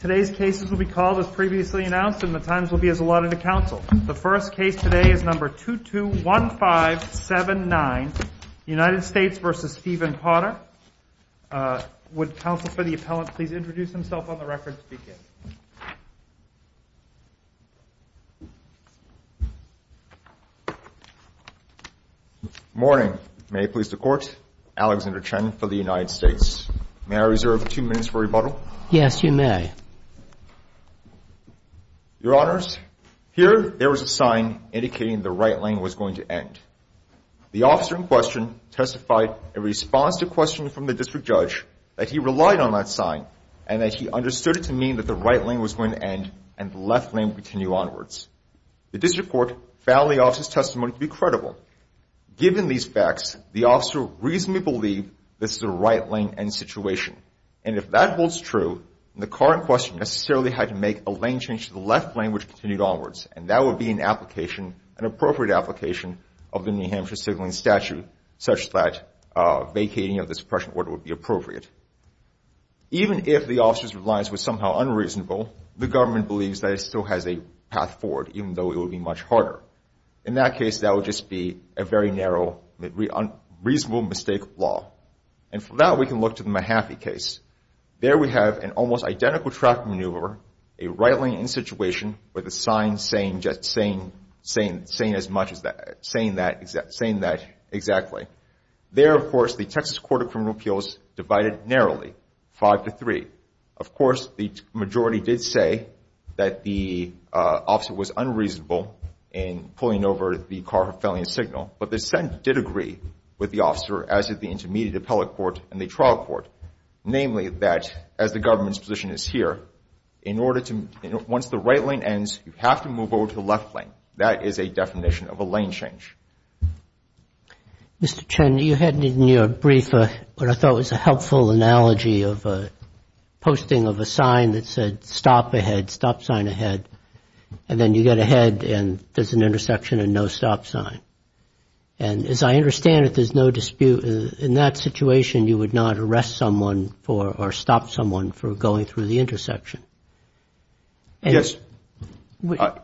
Today's cases will be called as previously announced, and the times will be as allotted to counsel. The first case today is number 221579, United States v. Stephen Potter. Would counsel for the appellant please introduce himself on the record and speak in? Morning. May it please the court. Alexander Chen for the United States. May I reserve two minutes for rebuttal? Yes, you may. Your honors, here there was a sign indicating the right lane was going to end. The officer in question testified in response to a question from the district judge that he relied on that sign, and that he understood it to mean that the right lane was going to end and the left lane would continue onwards. The district court found the officer's testimony to be credible. Given these facts, the officer reasonably believed this is a right lane end situation. And if that holds true, the current question necessarily had to make a lane change to the left lane which continued onwards. And that would be an appropriate application of the New Hampshire Signaling Statute, such that vacating of the suppression order would be appropriate. Even if the officer's reliance was somehow unreasonable, the government believes that it still has a path forward, even though it would be much harder. In that case, that would just be a very narrow, reasonable mistake of law. And for that, we can look to the Mahaffey case. There we have an almost identical traffic maneuver, a right lane end situation with a sign saying that exactly. There, of course, the Texas Court of Criminal Appeals divided narrowly, five to three. Of course, the majority did say that the officer was unreasonable in pulling over the car for failing a signal. But the dissent did agree with the officer as did the Intermediate Appellate Court and the Trial Court, namely that as the government's position is here, once the right lane ends, you have to move over to the left lane. That is a definition of a lane change. Mr. Chen, you had in your brief what I thought was a helpful analogy of a posting of a sign that said stop ahead, stop sign ahead. And then you get ahead, and there's an intersection and no stop sign. And as I understand it, there's no dispute. In that situation, you would not arrest someone for or stop someone for going through the intersection. Yes.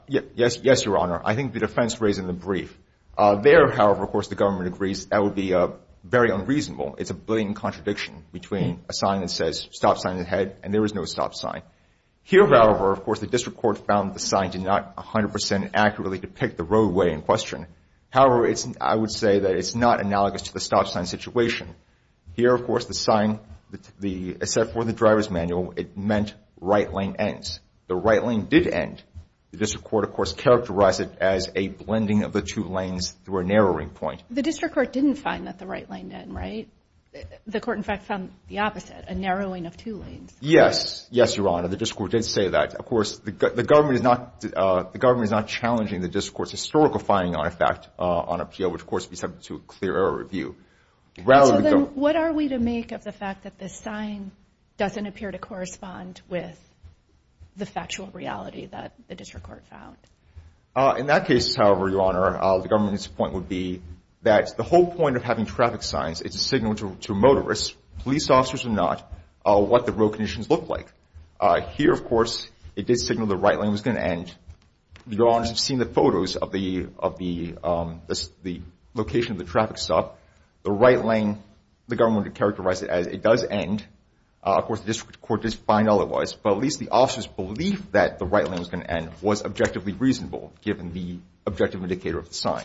Yes, Your Honor. I think the defense raised in the brief. There, however, of course, the government agrees that would be very unreasonable. It's a blatant contradiction between a sign that says stop sign ahead, and there is no stop sign. Here, however, of course, the district court found the sign did not 100% accurately depict the roadway in question. However, I would say that it's not analogous to the stop sign situation. Here, of course, the sign, except for the driver's manual, it meant right lane ends. The right lane did end. The district court, of course, characterized it as a blending of the two lanes through a narrowing point. The district court didn't find that the right lane did, right? The court, in fact, found the opposite, a narrowing of two lanes. Yes. Yes, Your Honor, the district court did say that. Of course, the government is not challenging the district court's historical finding, in effect, on a appeal, which, of course, would be subject to a clear error review. What are we to make of the fact that this sign doesn't appear to correspond with the factual reality that the district court found? In that case, however, Your Honor, the government's point would be that the whole point of having traffic signs is to signal to motorists, police officers or not, what the road conditions look like. Here, of course, it did signal the right lane was going to end. Your Honor, you've seen the photos of the location of the traffic stop. The right lane, the government would characterize it as it does end. Of course, the district court did find all it was. But at least the officer's belief that the right lane was going to end was objectively reasonable, given the objective indicator of the sign.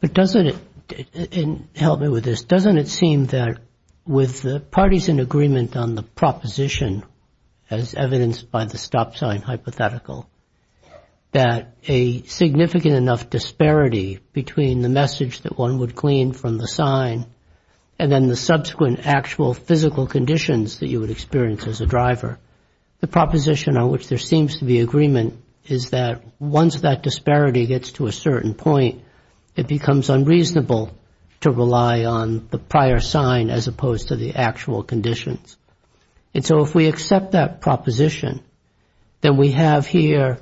But doesn't it, and help me with this, doesn't it seem that with the parties in agreement on the proposition, as evidenced by the stop sign hypothetical, that a significant enough disparity between the message that one would glean from the sign and then the subsequent actual physical conditions that you would experience as a driver, the proposition on which there seems to be agreement is that once that disparity gets to a certain point, it becomes unreasonable to rely on the prior sign, as opposed to the actual conditions. And so if we accept that proposition, then we have here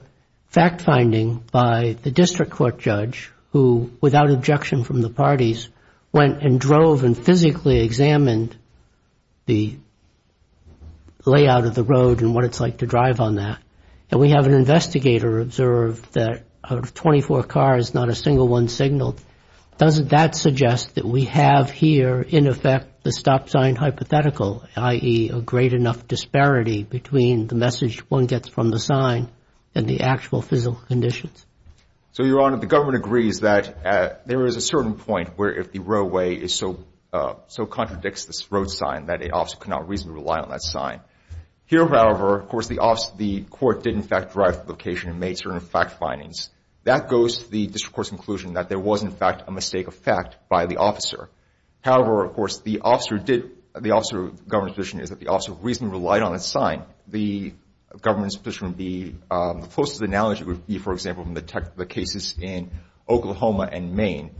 fact finding by the district court judge, who, without objection from the parties, went and drove and physically examined the layout of the road and what it's like to drive on that. And we have an investigator observe that out of 24 cars, not a single one signaled. Doesn't that suggest that we have here, in effect, the stop sign hypothetical, i.e. a great enough disparity between the message one gets from the sign and the actual physical conditions? So, Your Honor, the government agrees that there is a certain point where if the roadway is so contradicts this road sign that an officer cannot reasonably rely on that sign. Here, however, of course, the court did, in fact, drive the location and made certain fact findings. That goes to the district court's conclusion that there was, in fact, a mistake of fact by the officer. However, of course, the officer did, the officer of government's position is that the officer reasonably relied on that sign. The government's position would be, the closest analogy would be, for example, from the cases in Oklahoma and Maine.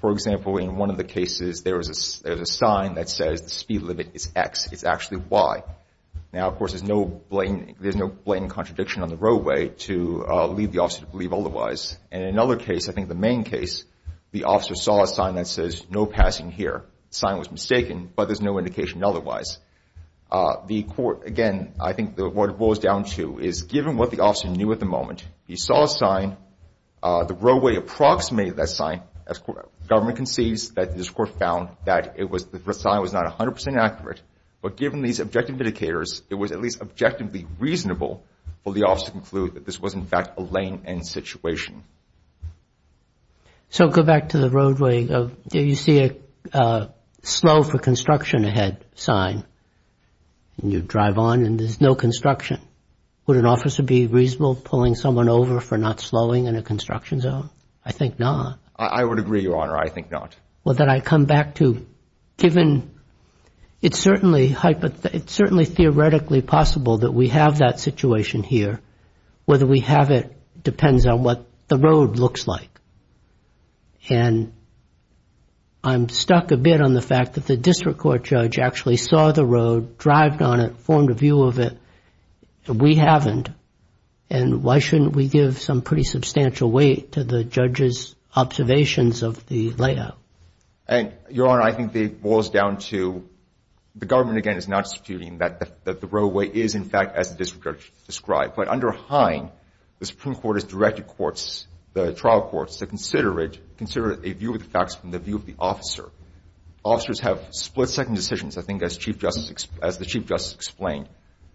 For example, in one of the cases, there was a sign that says the speed limit is X. It's actually Y. Now, of course, there's no blatant contradiction on the roadway to lead the officer to believe otherwise. And in another case, I think the Maine case, the officer saw a sign that says no passing here. Sign was mistaken, but there's no indication otherwise. The court, again, I think what it boils down to is given what the officer knew at the moment, he saw a sign, the roadway approximated that sign, as government concedes that the district court found that the sign was not 100% accurate, but given these objective indicators, it was at least objectively reasonable for the officer to conclude that this was, in fact, a lane end situation. So, go back to the roadway. You see a slow for construction ahead sign, and you drive on, and there's no construction. Would an officer be reasonable pulling someone over for not slowing in a construction zone? I think not. I would agree, Your Honor. I think not. Well, then I come back to, given it's certainly theoretically Whether we have it depends on what the roadway says. What the road looks like, and I'm stuck a bit on the fact that the district court judge actually saw the road, drived on it, formed a view of it, and we haven't, and why shouldn't we give some pretty substantial weight to the judge's observations of the layout? And, Your Honor, I think it boils down to, the government, again, is not disputing that the roadway is, in fact, as the district judge described, but under Hine, the Supreme Court has directed courts, the trial courts, to consider it, consider it a view of the facts from the view of the officer. Officers have split-second decisions, I think, as the Chief Justice explained.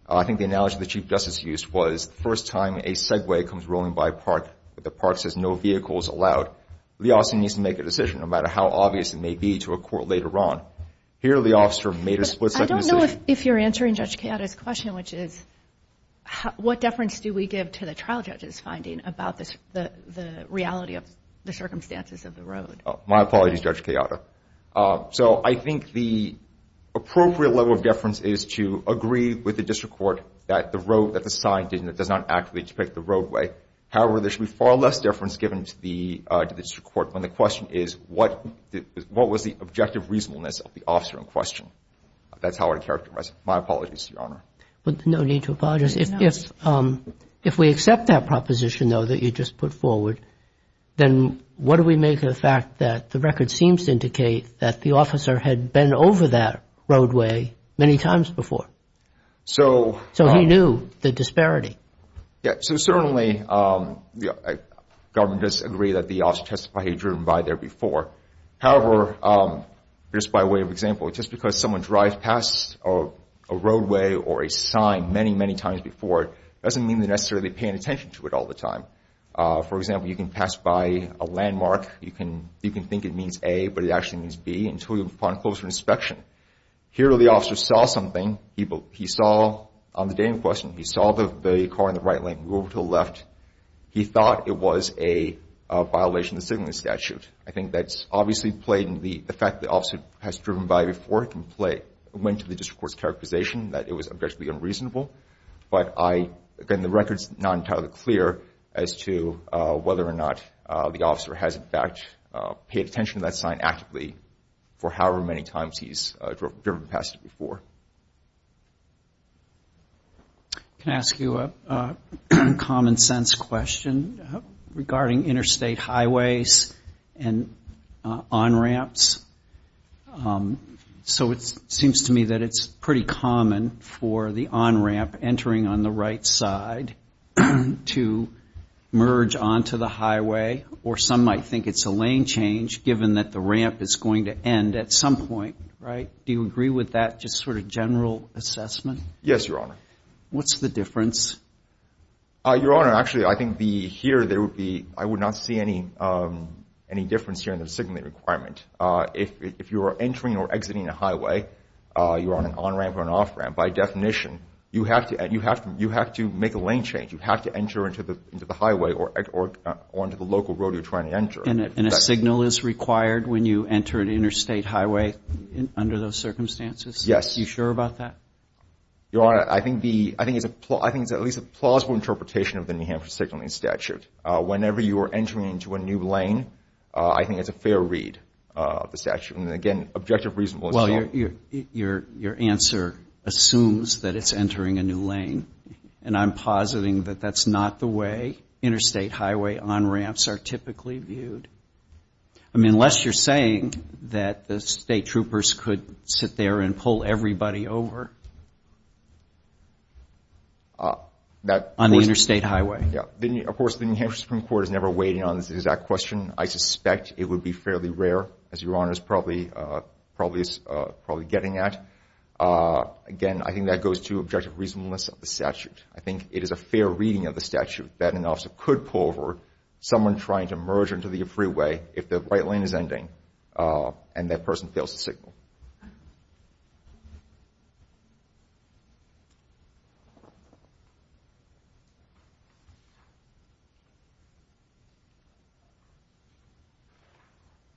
I think the analogy the Chief Justice used was the first time a Segway comes rolling by a park, but the park says no vehicles allowed, the officer needs to make a decision, no matter how obvious it may be to a court later on. Here, the officer made a split-second decision. I don't know if you're answering Judge Keada's question, which is, what deference do we give to the trial judge's finding about the reality of the circumstances of the road? My apologies, Judge Keada. So, I think the appropriate level of deference is to agree with the district court that the road, that the sign does not accurately depict the roadway. However, there should be far less deference given to the district court when the question is, what was the objective reasonableness of the officer in question? That's how I would characterize it. My apologies, Your Honor. But no need to apologize. If we accept that proposition, though, that you just put forward, then what do we make of the fact that the record seems to indicate that the officer had been over that roadway many times before? So, he knew the disparity. Yeah, so certainly, the government does agree that the officer testified he'd driven by there before. However, just by way of example, just because someone drives past a roadway or a sign many, many times before doesn't mean they're necessarily paying attention to it all the time. For example, you can pass by a landmark. You can think it means A, but it actually means B until you're upon closer inspection. Here, the officer saw something. He saw, on the day in question, he saw the car in the right lane move over to the left. He thought it was a violation of the signaling statute. I think that's obviously played into the fact the officer has driven by before and went to the district court's characterization that it was objectively unreasonable. But, again, the record's not entirely clear as to whether or not the officer has, in fact, paid attention to that sign actively for however many times he's driven past it before. Can I ask you a common sense question regarding interstate highways and on-ramps? So, it seems to me that it's pretty common for the on-ramp entering on the right side to merge onto the highway, or some might think it's a lane change given that the ramp is going to end at some point, right? Do you agree with that just sort of general assessment? Yes, Your Honor. What's the difference? Your Honor, actually, I think here there would be, I would not see any difference here in the signaling requirement. If you are entering or exiting a highway, you're on an on-ramp or an off-ramp, by definition, you have to make a lane change. You have to enter into the highway or onto the local road you're trying to enter. And a signal is required when you enter an interstate highway under those circumstances? Yes. You sure about that? Your Honor, I think it's at least a plausible interpretation of the New Hampshire signaling statute. Whenever you are entering into a new lane, I think it's a fair read of the statute. And again, objective, reasonable, and so on. Well, your answer assumes that it's entering a new lane. And I'm positing that that's not the way interstate highway on-ramps are typically viewed. I mean, unless you're saying that the state troopers could sit there and pull everybody over on the interstate highway. Of course, the New Hampshire Supreme Court is never weighing on this exact question. I suspect it would be fairly rare, as your Honor is probably getting at. Again, I think that goes to objective reasonableness of the statute. I think it is a fair reading of the statute that an officer could pull over someone trying to merge into the freeway if the right lane is ending and that person fails to signal.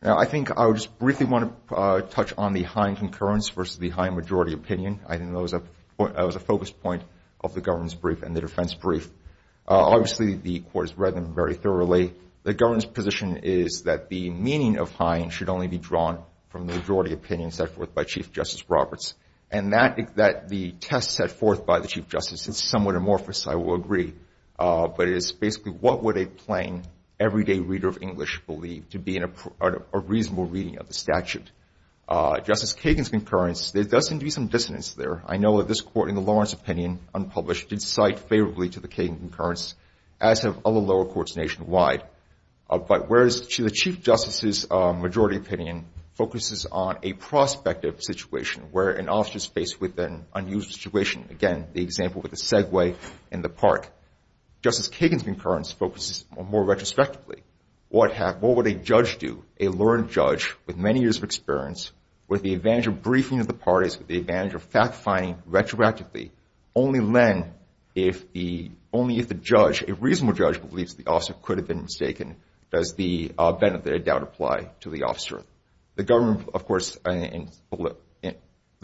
Now, I think I would just briefly want to touch on the Hine concurrence versus the Hine majority opinion. I think that was a focus point of the governance brief and the defense brief. Obviously, the court has read them very thoroughly. The governance position is that the meaning of Hine should only be drawn from the majority opinion set forth by Chief Justice Roberts. And that the test set forth by the Chief Justice is somewhat amorphous, I will agree. But it is basically, what would a plain everyday reader of English believe to be a reasonable reading of the statute. Justice Kagan's concurrence, there does seem to be some dissonance there. I know that this court in the Lawrence opinion, unpublished, did cite favorably to the Kagan concurrence, as have other lower courts nationwide. But whereas the Chief Justice's majority opinion focuses on a prospective situation where an officer is faced with an unusual situation. Again, the example with the Segway in the park. Justice Kagan's concurrence focuses more retrospectively. What would a judge do? A learned judge, with many years of experience, with the advantage of briefing of the parties, with the advantage of fact-finding retroactively, only then, if the judge, a reasonable judge, believes the officer could have been mistaken, does the benefit of doubt apply to the officer. The government, of course, the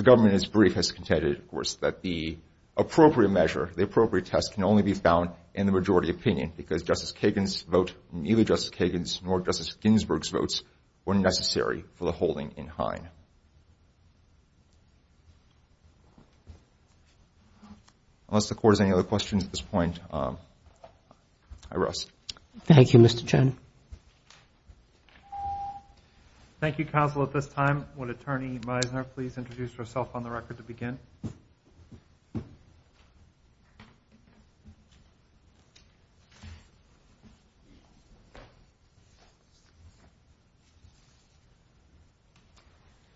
government in its brief has contended, of course, that the appropriate measure, the appropriate test, can only be found in the majority opinion, because Justice Kagan's vote, neither Justice Kagan's nor Justice Ginsburg's votes were necessary for the holding in Hine. Unless the court has any other questions at this point, I rest. Thank you, Mr. Chen. Thank you, Counsel, at this time, would Attorney Meisner please introduce herself on the record to begin?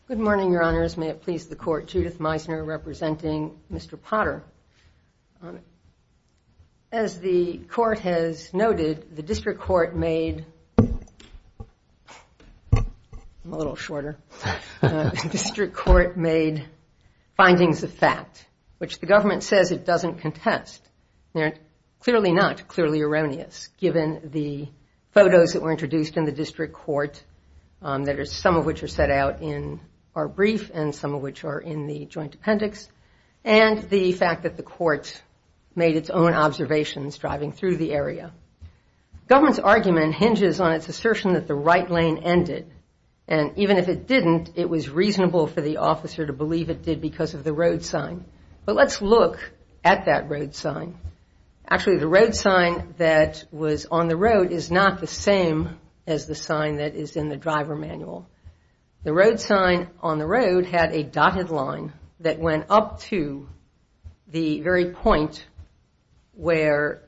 Good morning, Your Honors. May it please the court, Judith Meisner, representing Mr. Potter. As the court has noted, the district court made, I'm a little shorter, the district court made findings of fact, which the government says it doesn't contest. They're clearly not, clearly erroneous, given the photos that were introduced in the district court, that are some of which are set out in our brief and some of which are in the joint appendix, and the fact that the court made its own observations driving through the area. Government's argument hinges on its assertion that the right lane ended, and even if it didn't, it was reasonable for the officer to believe it did because of the road sign. But let's look at that road sign. Actually, the road sign that was on the road is not the same as the sign that is in the driver manual. The road sign on the road had a dotted line that went up to the very point where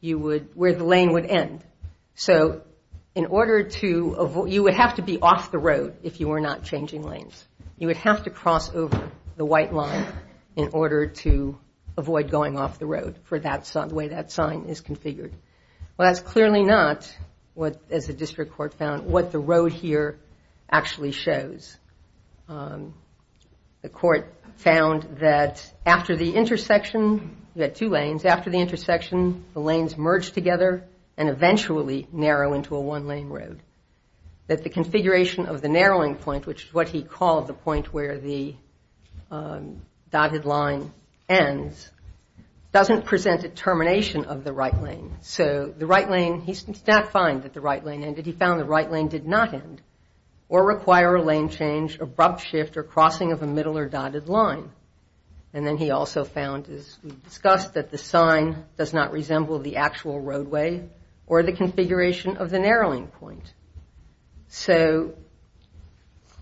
the lane would end. So in order to, you would have to be off the road if you were not changing lanes. You would have to cross over the white line in order to avoid going off the road for the way that sign is configured. Well, that's clearly not, as the district court found, what the road here actually shows. The court found that after the intersection, you had two lanes, after the intersection, the lanes merged together and eventually narrow into a one-lane road. That the configuration of the narrowing point, which is what he called the point where the dotted line ends, doesn't present a termination of the right lane. So the right lane, he did not find that the right lane ended. He found the right lane did not end or require a lane change, abrupt shift, or crossing of a middle or dotted line. And then he also found, as we discussed, that the sign does not resemble the actual roadway or the configuration of the narrowing point. So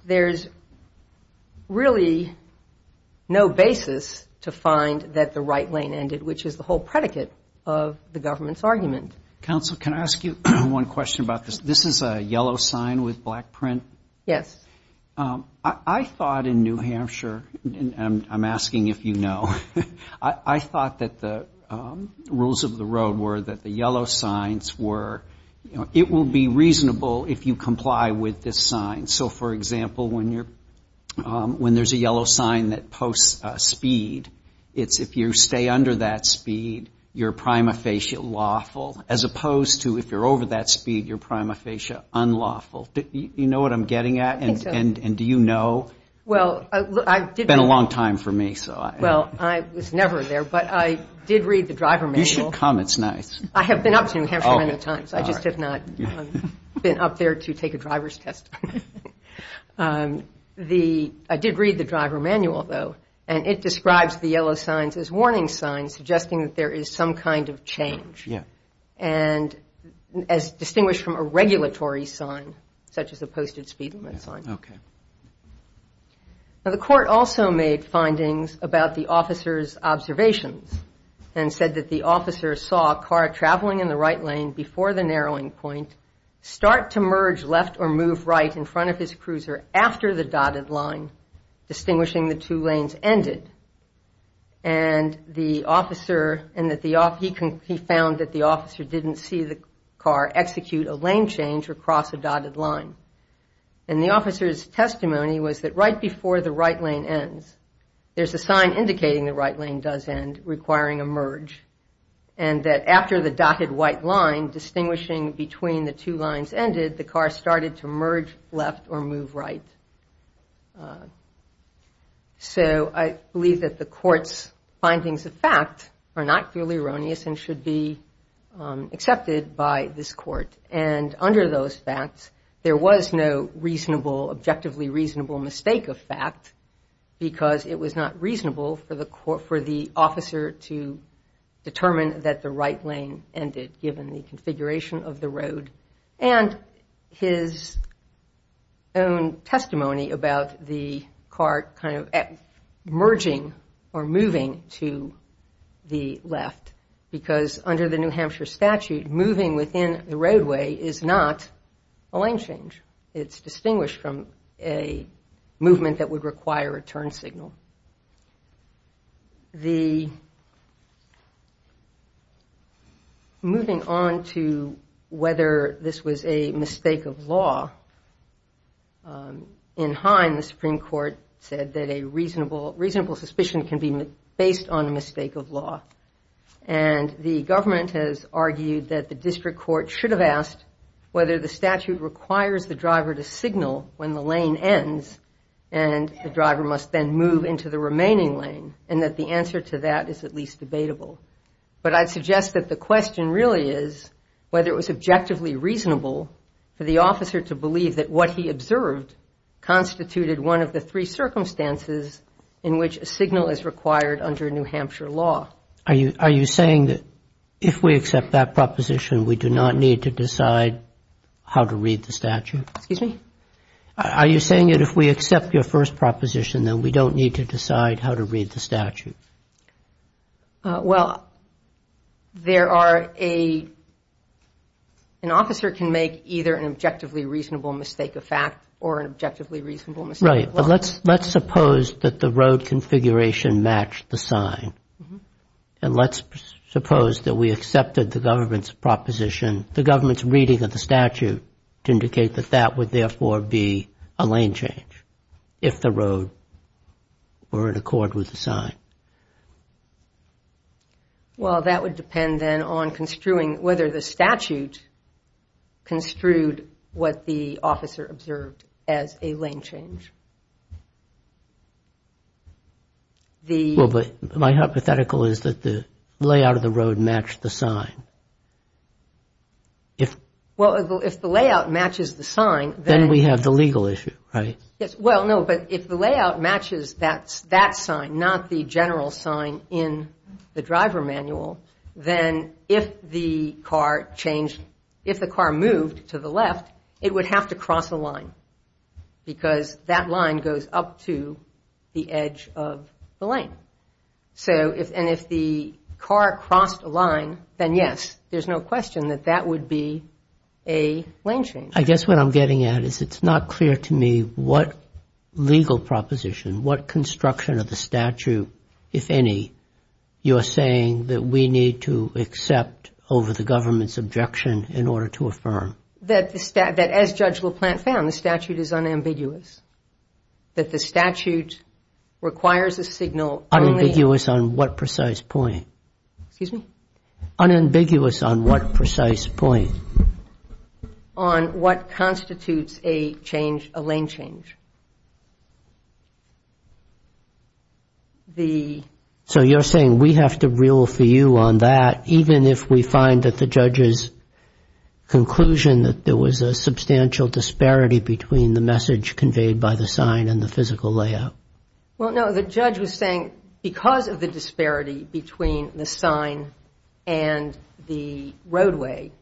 there's really no basis to find that the right lane ended, which is the whole predicate of the government's argument. Counsel, can I ask you one question about this? This is a yellow sign with black print. Yes. I thought in New Hampshire, and I'm asking if you know, I thought that the rules of the road were that the yellow signs were, it will be reasonable if you comply with this sign. So for example, when there's a yellow sign that posts speed, it's if you stay under that speed, you're prima facie lawful, as opposed to if you're over that speed, you're prima facie unlawful. You know what I'm getting at? I think so. And do you know? Well, I did. It's been a long time for me, so. Well, I was never there, but I did read the driver manual. You should come, it's nice. I have been up to New Hampshire many times. I just have not been up there to take a driver's test. I did read the driver manual though, and it describes the yellow signs as warning signs, suggesting that there is some kind of change. And as distinguished from a regulatory sign, such as the posted speed limit sign. Now the court also made findings about the officer's observations, and said that the officer saw a car traveling in the right lane before the narrowing point, start to merge left or move right in front of his cruiser after the dotted line, distinguishing the two lanes ended. And the officer, and that he found that the officer didn't see the car execute a lane change or cross a dotted line. And the officer's testimony was that right before the right lane ends, there's a sign indicating the right lane does end, requiring a merge. And that after the dotted white line, distinguishing between the two lines ended, the car started to merge left or move right. So I believe that the court's findings of fact are not purely erroneous, and should be accepted by this court. And under those facts, there was no reasonable, objectively reasonable mistake of fact, because it was not reasonable for the officer to determine that the right lane ended, given the configuration of the road. And his own testimony about the car kind of merging or moving to the left, because under the New Hampshire statute, moving within the roadway is not a lane change. It's distinguished from a movement that would require a turn signal. The, moving on to whether this was a mistake of law. In Hine, the Supreme Court said that a reasonable suspicion can be based on a mistake of law. And the government has argued that the district court should have asked whether the statute requires the driver to signal when the lane ends, and the driver must then move into the remaining lane, and that the answer to that is at least debatable. But I'd suggest that the question really is whether it was objectively reasonable for the officer to believe that what he observed constituted one of the three circumstances in which a signal is required under New Hampshire law. Are you saying that if we accept that proposition, we do not need to decide how to read the statute? Excuse me? Are you saying that if we accept your first proposition, then we don't need to decide how to read the statute? Well, there are a, an officer can make either an objectively reasonable mistake of fact, or an objectively reasonable mistake of law. Right, but let's suppose that the road configuration matched the sign. And let's suppose that we accepted the government's proposition, the government's reading of the statute, to indicate that that would therefore be a lane change, if the road were in accord with the sign. Well, that would depend then on construing whether the statute construed what the officer observed as a lane change. The- Well, but my hypothetical is that the layout of the road matched the sign. If- Well, if the layout matches the sign, then- Then we have the legal issue, right? Yes, well, no, but if the layout matches that sign, not the general sign in the driver manual, then if the car changed, if the car moved to the left, it would have to cross a line, because that line goes up to the edge of the lane. So, and if the car crossed a line, then yes, there's no question that that would be a lane change. I guess what I'm getting at is it's not clear to me what legal proposition, what construction of the statute, if any, you're saying that we need to accept over the government's objection in order to affirm. That as Judge LaPlante found, the statute is unambiguous. That the statute requires a signal only- Unambiguous on what precise point? Excuse me? Unambiguous on what precise point? On what constitutes a change, a lane change. The- So you're saying we have to rule for you on that, even if we find that the judge's conclusion that there was a substantial disparity between the message conveyed by the sign Well, no, the judge was saying because of the disparity between the sign and the roadway,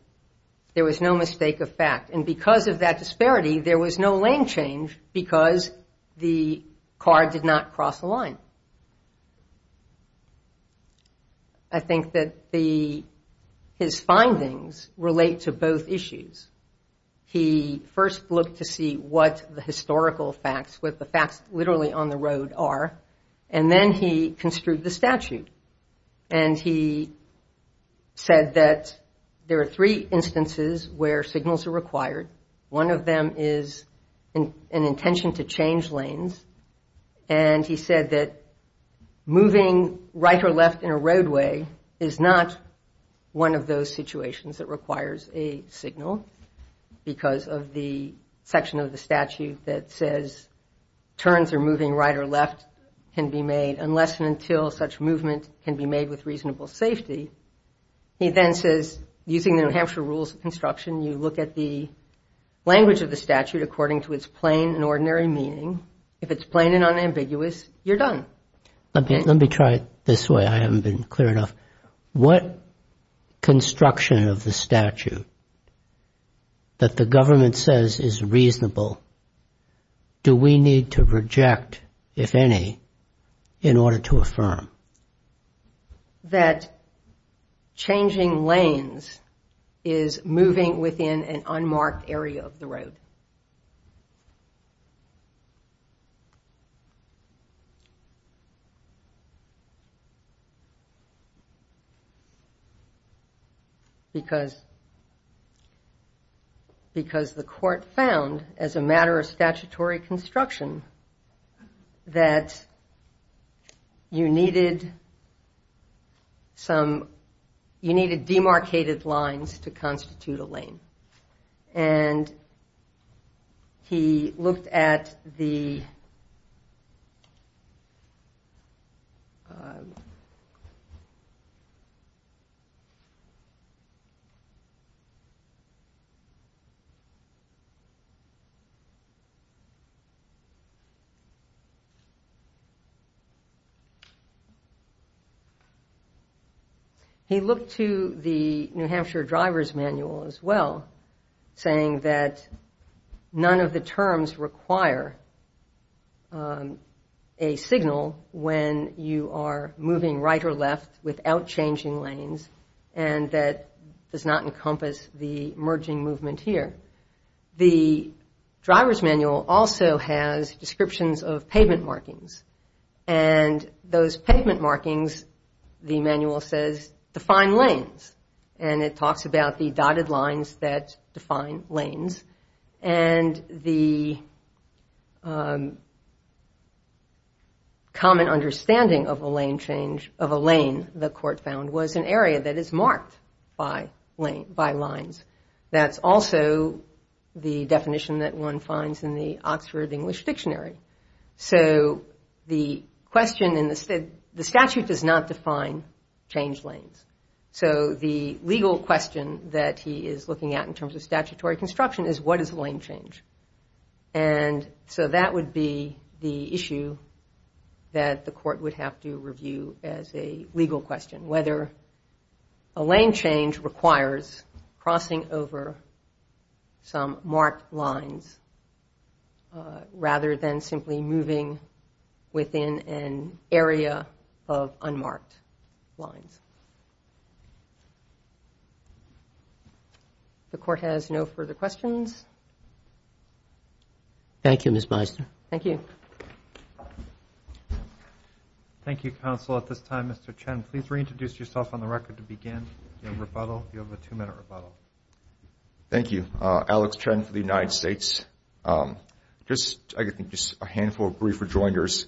there was no mistake of fact. And because of that disparity, there was no lane change because the car did not cross the line. I think that the, his findings relate to both issues. He first looked to see what the historical facts, what the facts literally on the road are, and then he construed the statute. And he said that there are three instances where signals are required. One of them is an intention to change lanes. And he said that moving right or left in a roadway is not one of those situations that requires a signal because of the section of the statute that says turns are moving right or left can be made unless and until such movement can be made with reasonable safety. He then says, using the New Hampshire rules of construction, you look at the language of the statute according to its plain and ordinary meaning. If it's plain and unambiguous, you're done. Okay, let me try it this way. I haven't been clear enough. What construction of the statute that the government says is reasonable, do we need to reject, if any, in order to affirm? That changing lanes is moving within an unmarked area of the road. Okay. Because the court found, as a matter of statutory construction, that you needed demarcated lines to constitute a lane. And he looked at the... He looked to the New Hampshire driver's manual as well, saying that none of the terms require a signal when you are moving right or left without changing lanes and that does not encompass the merging movement here. The driver's manual also has descriptions of pavement markings. And those pavement markings, the manual says, define lanes. And it talks about the dotted lines that define lanes. And the common understanding of a lane change, of a lane, the court found, was an area that is marked by lines. That's also the definition that one finds in the Oxford English Dictionary. So the question in the... The statute does not define change lanes. So the legal question that he is looking at in terms of statutory construction is what is a lane change? And so that would be the issue that the court would have to review as a legal question. Whether a lane change requires crossing over some marked lines rather than simply moving within an area of unmarked lines. The court has no further questions. Thank you, Ms. Meister. Thank you. Thank you, counsel. At this time, Mr. Chen, please reintroduce yourself on the record to begin. You have a rebuttal. You have a two-minute rebuttal. Thank you. Alex Chen for the United States. Just, I think, just a handful of brief rejoinders.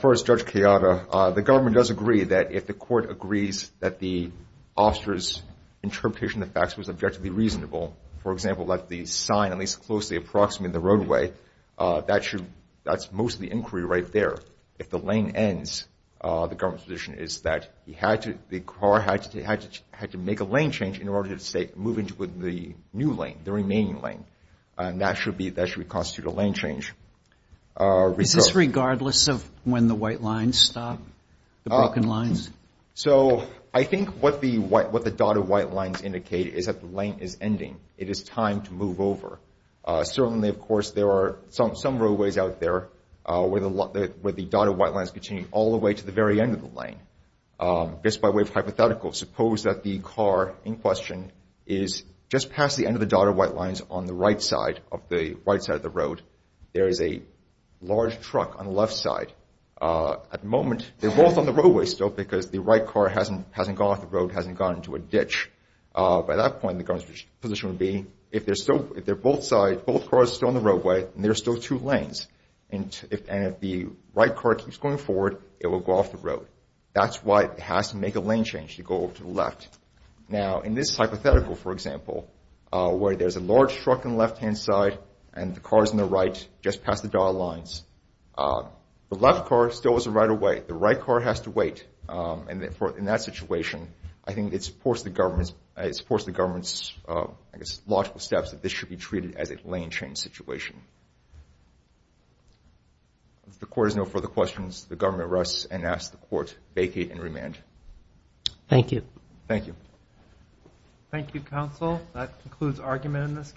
First, Judge Kayada, the government does agree that if the court agrees that the officer's interpretation of the facts was objectively reasonable, for example, that the sign at least closely approximated the roadway, that's mostly inquiry right there. If the lane ends, the government's position is that the car had to make a lane change in order to move into the new lane, the remaining lane. And that should constitute a lane change. Is this regardless of when the white lines stop? The broken lines? So, I think what the dotted white lines indicate is that the lane is ending. It is time to move over. Certainly, of course, there are some roadways out there where the dotted white lines continue all the way to the very end of the lane. Just by way of hypothetical, suppose that the car in question is just past the end of the dotted white lines on the right side of the road. There is a large truck on the left side. At the moment, they're both on the roadway still because the right car hasn't gone off the road, hasn't gone into a ditch. By that point, the government's position would be, if they're both sides, both cars are still on the roadway and there are still two lanes, and if the right car keeps going forward, it will go off the road. That's why it has to make a lane change to go over to the left. Now, in this hypothetical, for example, where there's a large truck on the left-hand side and the car's on the right, just past the dotted lines, the left car still is a right-of-way. The right car has to wait. And in that situation, I think it supports the government's logical steps that this should be treated as a lane change situation. If the court has no further questions, the government rests and asks the court vacate and remand. Thank you. Thank you. Thank you, counsel. That concludes argument in this case.